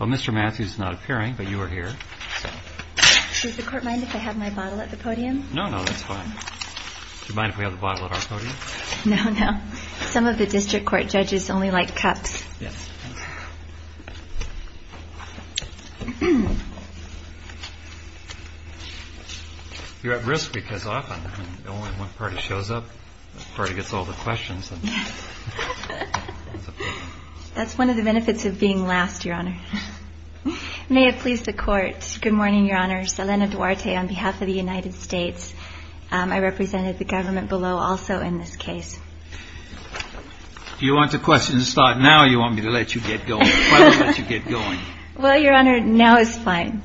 Mr. Matthews is not appearing, but you are here. Does the court mind if I have my bottle at the podium? No, no, that's fine. Do you mind if we have the bottle at our podium? No, no. Some of the district court judges only like cups. Yes. You're at risk because often only one party shows up. The party gets all the questions. That's one of the benefits of being last, Your Honor. May it please the court. Good morning, Your Honor. Selena Duarte on behalf of the United States. I represented the government below also in this case. Do you want the questions to start now or do you want me to let you get going? Well, Your Honor, now is fine,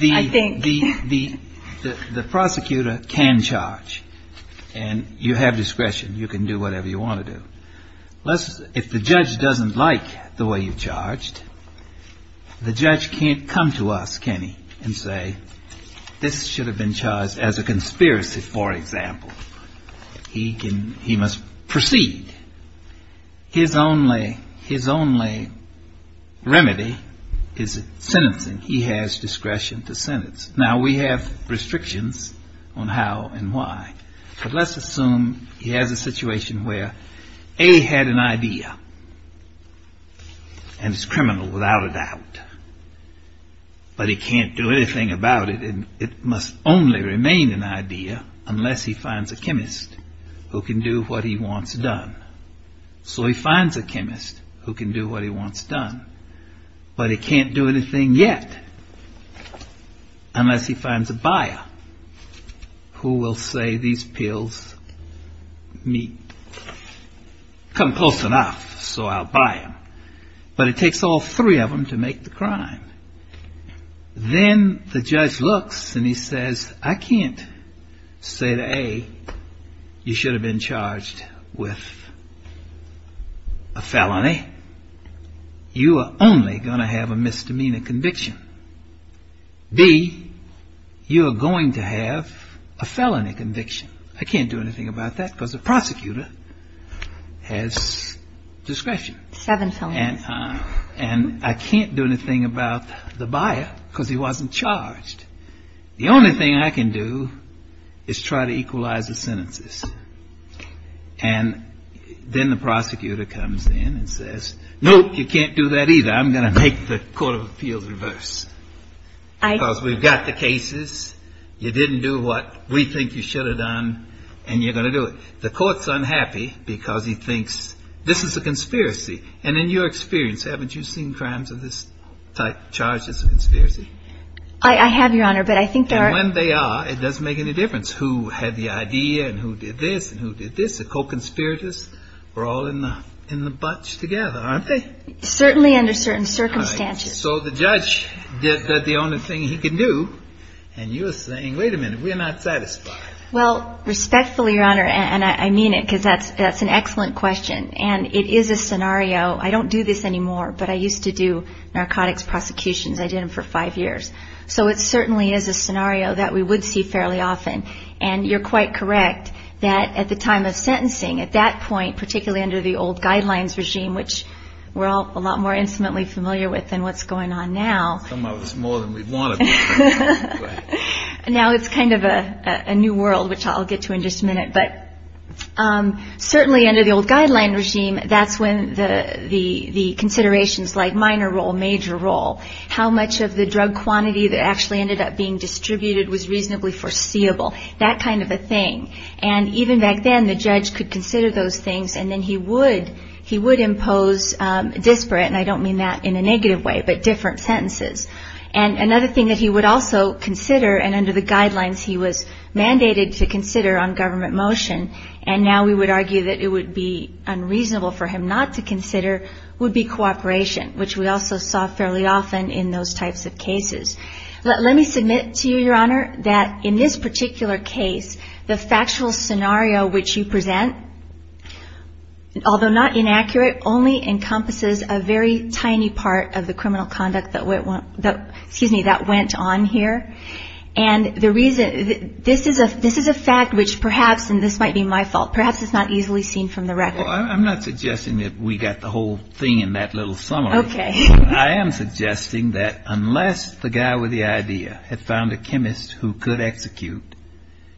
I think. The prosecutor can charge, and you have discretion. You can do whatever you want to do. If the judge doesn't like the way you've charged, the judge can't come to us, can he, and say, this should have been charged as a conspiracy, for example. He must proceed. His only remedy is sentencing. He has discretion to sentence. Now, we have restrictions on how and why, but let's assume he has a situation where A had an idea, and it's criminal without a doubt, but he can't do anything about it, and it must only remain an idea unless he finds a chemist who can do what he wants done. So he finds a chemist who can do what he wants done, but he can't do anything yet unless he finds a buyer who will say, these pills come close enough, so I'll buy them. But it takes all three of them to make the crime. Then the judge looks and he says, I can't say to A, you should have been charged with a felony. You are only going to have a misdemeanor conviction. B, you are going to have a felony conviction. I can't do anything about that because the prosecutor has discretion. Seven felonies. And I can't do anything about the buyer because he wasn't charged. The only thing I can do is try to equalize the sentences. And then the prosecutor comes in and says, nope, you can't do that either. I'm going to make the court of appeals reverse because we've got the cases. You didn't do what we think you should have done, and you're going to do it. The court's unhappy because he thinks this is a conspiracy. And in your experience, haven't you seen crimes of this type charged as a conspiracy? I have, Your Honor, but I think there are. And when they are, it doesn't make any difference who had the idea and who did this and who did this. The co-conspirators were all in the bunch together, aren't they? Certainly under certain circumstances. So the judge did the only thing he could do, and you were saying, wait a minute, we're not satisfied. Well, respectfully, Your Honor, and I mean it because that's an excellent question, and it is a scenario. I don't do this anymore, but I used to do narcotics prosecutions. I did them for five years. So it certainly is a scenario that we would see fairly often. And you're quite correct that at the time of sentencing, at that point, particularly under the old guidelines regime, which we're all a lot more intimately familiar with than what's going on now. Come out with more than we wanted. Now it's kind of a new world, which I'll get to in just a minute. But certainly under the old guideline regime, that's when the considerations like minor role, major role, how much of the drug quantity that actually ended up being distributed was reasonably foreseeable, that kind of a thing. And even back then, the judge could consider those things, and then he would impose disparate, and I don't mean that in a negative way, but different sentences. And another thing that he would also consider, and under the guidelines he was mandated to consider on government motion, and now we would argue that it would be unreasonable for him not to consider, would be cooperation, which we also saw fairly often in those types of cases. Let me submit to you, Your Honor, that in this particular case, the factual scenario which you present, although not inaccurate, only encompasses a very tiny part of the criminal conduct that went on here. And the reason, this is a fact which perhaps, and this might be my fault, perhaps it's not easily seen from the record. Well, I'm not suggesting that we got the whole thing in that little summary. Okay. I am suggesting that unless the guy with the idea had found a chemist who could execute,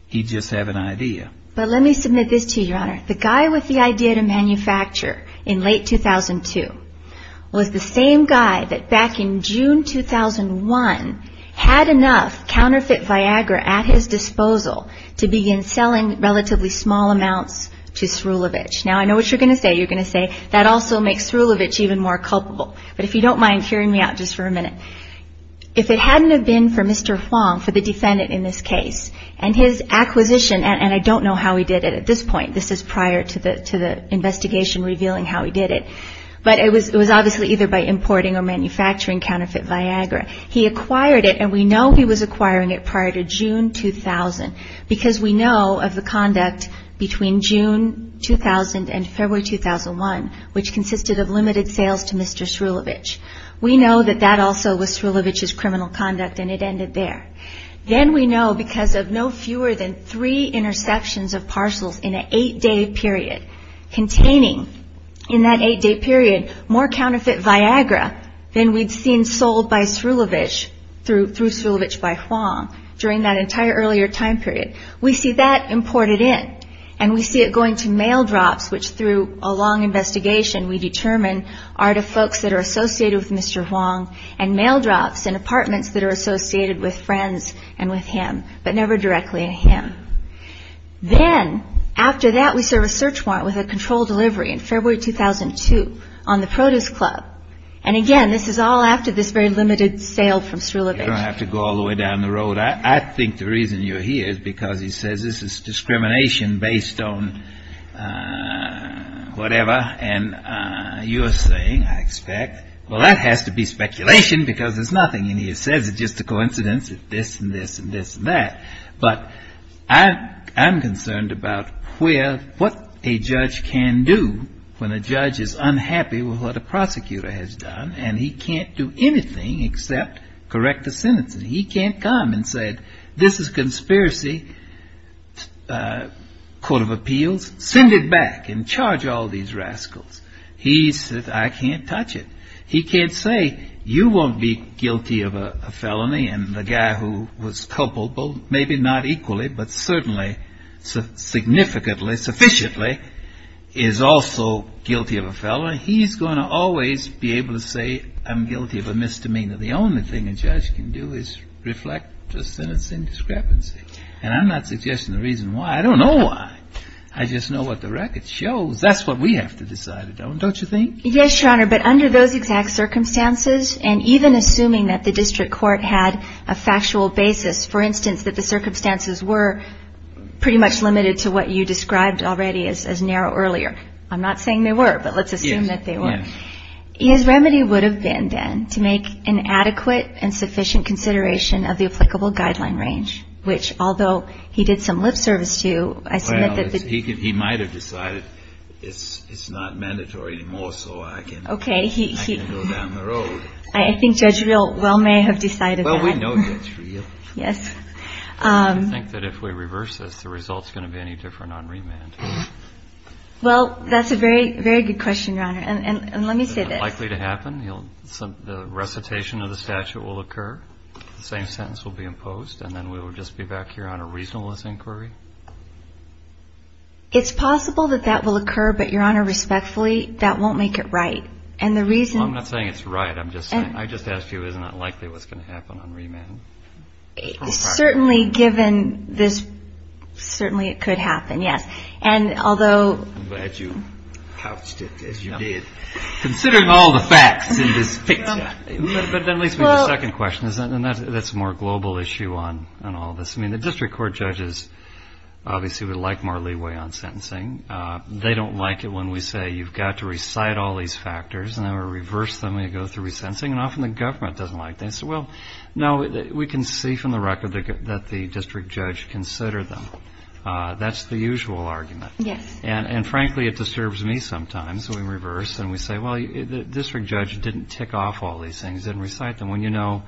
he'd just have an idea. But let me submit this to you, Your Honor. The guy with the idea to manufacture in late 2002 was the same guy that back in June 2001 had enough counterfeit Viagra at his disposal to begin selling relatively small amounts to Srulevich. Now, I know what you're going to say. You're going to say, that also makes Srulevich even more culpable. But if you don't mind clearing me out just for a minute. If it hadn't have been for Mr. Huang, for the defendant in this case, and his acquisition, and I don't know how he did it at this point. This is prior to the investigation revealing how he did it. But it was obviously either by importing or manufacturing counterfeit Viagra. He acquired it, and we know he was acquiring it prior to June 2000, because we know of the conduct between June 2000 and February 2001, which consisted of limited sales to Mr. Srulevich. We know that that also was Srulevich's criminal conduct, and it ended there. Then we know because of no fewer than three interceptions of parcels in an eight-day period, containing in that eight-day period more counterfeit Viagra than we'd seen sold by Srulevich, through Srulevich by Huang, during that entire earlier time period. We see that imported in, and we see it going to mail drops, which through a long investigation we determine are to folks that are associated with Mr. Huang, and mail drops in apartments that are associated with friends and with him, but never directly to him. Then, after that, we serve a search warrant with a controlled delivery in February 2002 on the Produce Club. And again, this is all after this very limited sale from Srulevich. You don't have to go all the way down the road. I think the reason you're here is because he says this is discrimination based on whatever. And you're saying, I expect, well, that has to be speculation because there's nothing in here. It says it's just a coincidence, this and this and this and that. But I'm concerned about what a judge can do when a judge is unhappy with what a prosecutor has done, and he can't do anything except correct a sentence. He can't come and say, this is conspiracy, court of appeals, send it back, and charge all these rascals. He says, I can't touch it. He can't say, you won't be guilty of a felony, and the guy who was culpable, maybe not equally, but certainly significantly, sufficiently, is also guilty of a felony. He's going to always be able to say, I'm guilty of a misdemeanor. The only thing a judge can do is reflect the sentence in discrepancy. And I'm not suggesting the reason why. I don't know why. I just know what the record shows. That's what we have to decide, don't you think? Yes, Your Honor. But under those exact circumstances, and even assuming that the district court had a factual basis, for instance, that the circumstances were pretty much limited to what you described already as narrow earlier. I'm not saying they were, but let's assume that they were. Yes. His remedy would have been, then, to make an adequate and sufficient consideration of the applicable guideline range, which, although he did some lip service to, I submit that the judge Well, he might have decided it's not mandatory anymore, so I can go down the road. I think Judge Real well may have decided that. Well, we know Judge Real. Yes. Do you think that if we reverse this, the result's going to be any different on remand? Well, that's a very, very good question, Your Honor. And let me say this. It's likely to happen. The recitation of the statute will occur. The same sentence will be imposed, and then we will just be back here on a reasonableness inquiry. It's possible that that will occur, but, Your Honor, respectfully, that won't make it right. And the reason Well, I'm not saying it's right. I'm just saying, I just asked you, isn't it likely what's going to happen on remand? Certainly, given this, certainly it could happen, yes. And although I'm glad you couched it as you did. Considering all the facts in this picture. But that leads me to the second question, and that's a more global issue on all this. I mean, the district court judges obviously would like more leeway on sentencing. They don't like it when we say you've got to recite all these factors, and then we reverse them and go through resentencing, and often the government doesn't like that. So, well, no, we can see from the record that the district judge considered them. That's the usual argument. Yes. And, frankly, it disturbs me sometimes when we reverse and we say, well, the district judge didn't tick off all these things, didn't recite them, when you know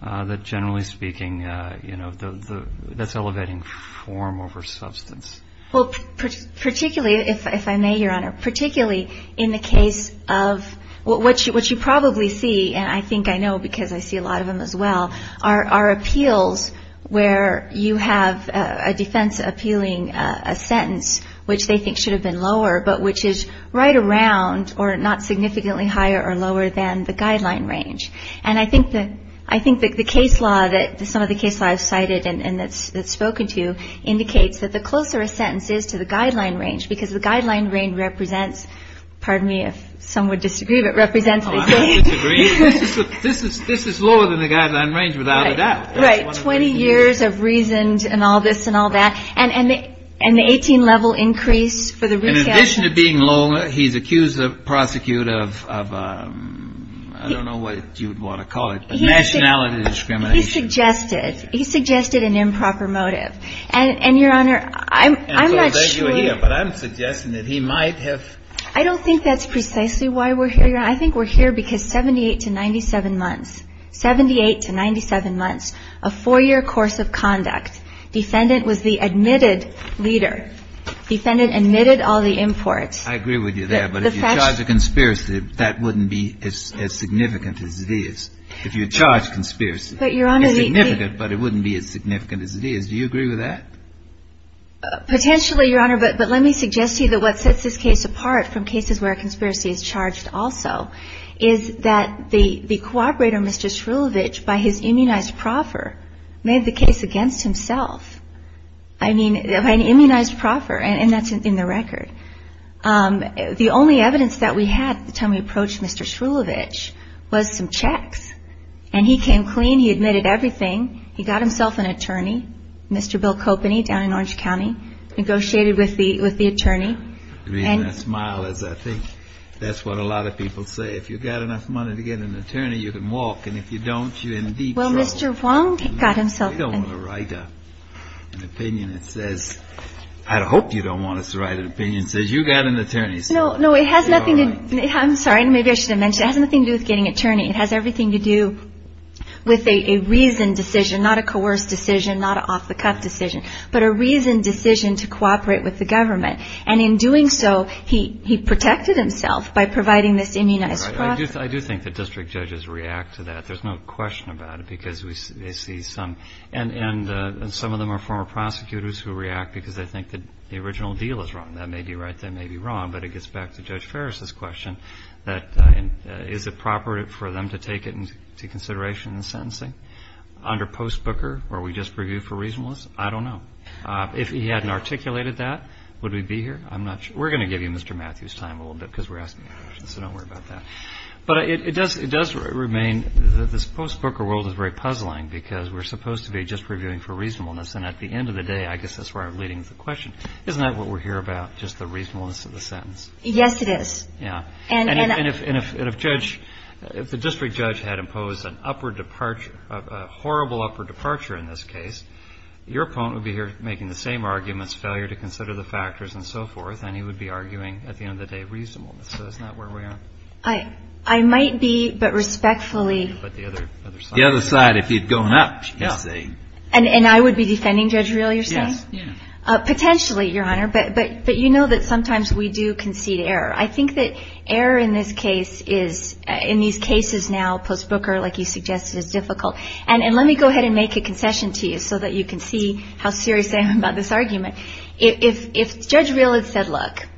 that, generally speaking, that's elevating form over substance. Well, particularly, if I may, Your Honor, particularly in the case of what you probably see, and I think I know because I see a lot of them as well, are appeals where you have a defense appealing a sentence, which they think should have been lower, but which is right around or not significantly higher or lower than the guideline range. And I think that the case law, some of the case law I've cited and that's spoken to, indicates that the closer a sentence is to the guideline range, because the guideline range represents, pardon me if some would disagree, but represents... I don't disagree. This is lower than the guideline range without a doubt. Right, 20 years of reasoned and all this and all that. And the 18-level increase for the recount... In addition to being lower, he's accused the prosecutor of, I don't know what you would want to call it, but nationality discrimination. He suggested. He suggested an improper motive. And, Your Honor, I'm not sure... But I'm suggesting that he might have... I don't think that's precisely why we're here, Your Honor. I think we're here because 78 to 97 months, 78 to 97 months, a four-year course of conduct, defendant was the admitted leader. Defendant admitted all the imports. I agree with you there. But if you charge a conspiracy, that wouldn't be as significant as it is. If you charge conspiracy, it's significant, but it wouldn't be as significant as it is. Do you agree with that? Potentially, Your Honor. But let me suggest to you that what sets this case apart from cases where a conspiracy is charged also is that the cooperator, Mr. Shrulevich, by his immunized proffer, made the case against himself. I mean, by an immunized proffer, and that's in the record. The only evidence that we had at the time we approached Mr. Shrulevich was some checks. And he came clean. He admitted everything. He got himself an attorney, Mr. Bill Copeny down in Orange County, negotiated with the attorney. The reason I smile is I think that's what a lot of people say. If you've got enough money to get an attorney, you can walk. And if you don't, you're in deep trouble. Well, Mr. Wong got himself an attorney. We don't want to write an opinion that says – I hope you don't want us to write an opinion that says you got an attorney. No, no, it has nothing to – I'm sorry. Maybe I should have mentioned it. It has nothing to do with getting an attorney. It has everything to do with a reasoned decision, not a coerced decision, not an off-the-cuff decision, but a reasoned decision to cooperate with the government. And in doing so, he protected himself by providing this immunized process. I do think that district judges react to that. There's no question about it because they see some. And some of them are former prosecutors who react because they think that the original deal is wrong. That may be right. That may be wrong. But it gets back to Judge Farris's question that is it proper for them to take it into consideration in sentencing? Under post-Booker, or we just reviewed for reasonableness? I don't know. If he hadn't articulated that, would we be here? I'm not sure. We're going to give you Mr. Matthews' time a little bit because we're asking questions, so don't worry about that. But it does remain that this post-Booker world is very puzzling because we're supposed to be just reviewing for reasonableness. And at the end of the day, I guess that's where I'm leading the question. Isn't that what we're here about, just the reasonableness of the sentence? Yes, it is. Yeah. And if Judge – if the district judge had imposed an upward departure, a horrible upward departure in this case, your opponent would be here making the same arguments, failure to consider the factors and so forth, and he would be arguing, at the end of the day, reasonableness. So that's not where we are. I might be, but respectfully – But the other side – The other side, if you'd gone up. Yeah. And I would be defending Judge Reel, you're saying? Yes, yeah. Potentially, Your Honor. But you know that sometimes we do concede error. I think that error in this case is – in these cases now, post-Booker, like you suggested, is difficult. And let me go ahead and make a concession to you so that you can see how serious I am about this argument. If Judge Reel had said, look,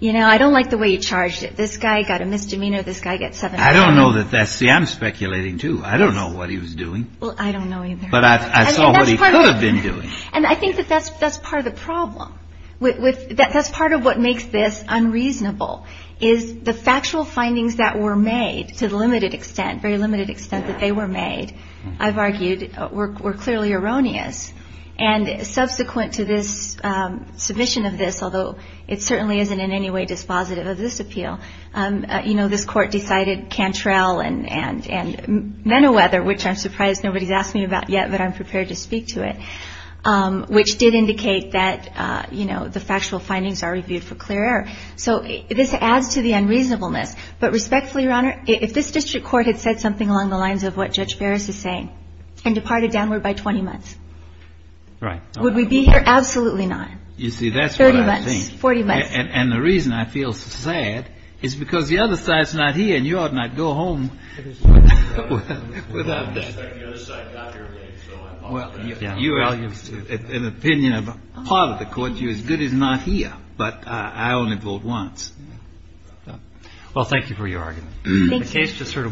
you know, I don't like the way you charged it. This guy got a misdemeanor. This guy got seven hours. I don't know that that's – see, I'm speculating, too. I don't know what he was doing. Well, I don't know either. But I saw what he could have been doing. And I think that that's part of the problem. That's part of what makes this unreasonable, is the factual findings that were made, to the limited extent, very limited extent that they were made, I've argued, were clearly erroneous. And subsequent to this submission of this, although it certainly isn't in any way dispositive of this appeal, you know, this Court decided Cantrell and Menowether, which I'm surprised nobody's asked me about yet, but I'm prepared to speak to it, which did indicate that, you know, the factual findings are reviewed for clear error. So this adds to the unreasonableness. But respectfully, Your Honor, if this district court had said something along the lines of what Judge Ferris is saying and departed downward by 20 months, would we be here? Absolutely not. You see, that's what I think. Thirty months. Forty months. And the reason I feel sad is because the other side's not here, and you ought not go home without that. Well, you have an opinion of part of the Court. You're as good as not here. But I only vote once. Well, thank you for your argument. Thank you.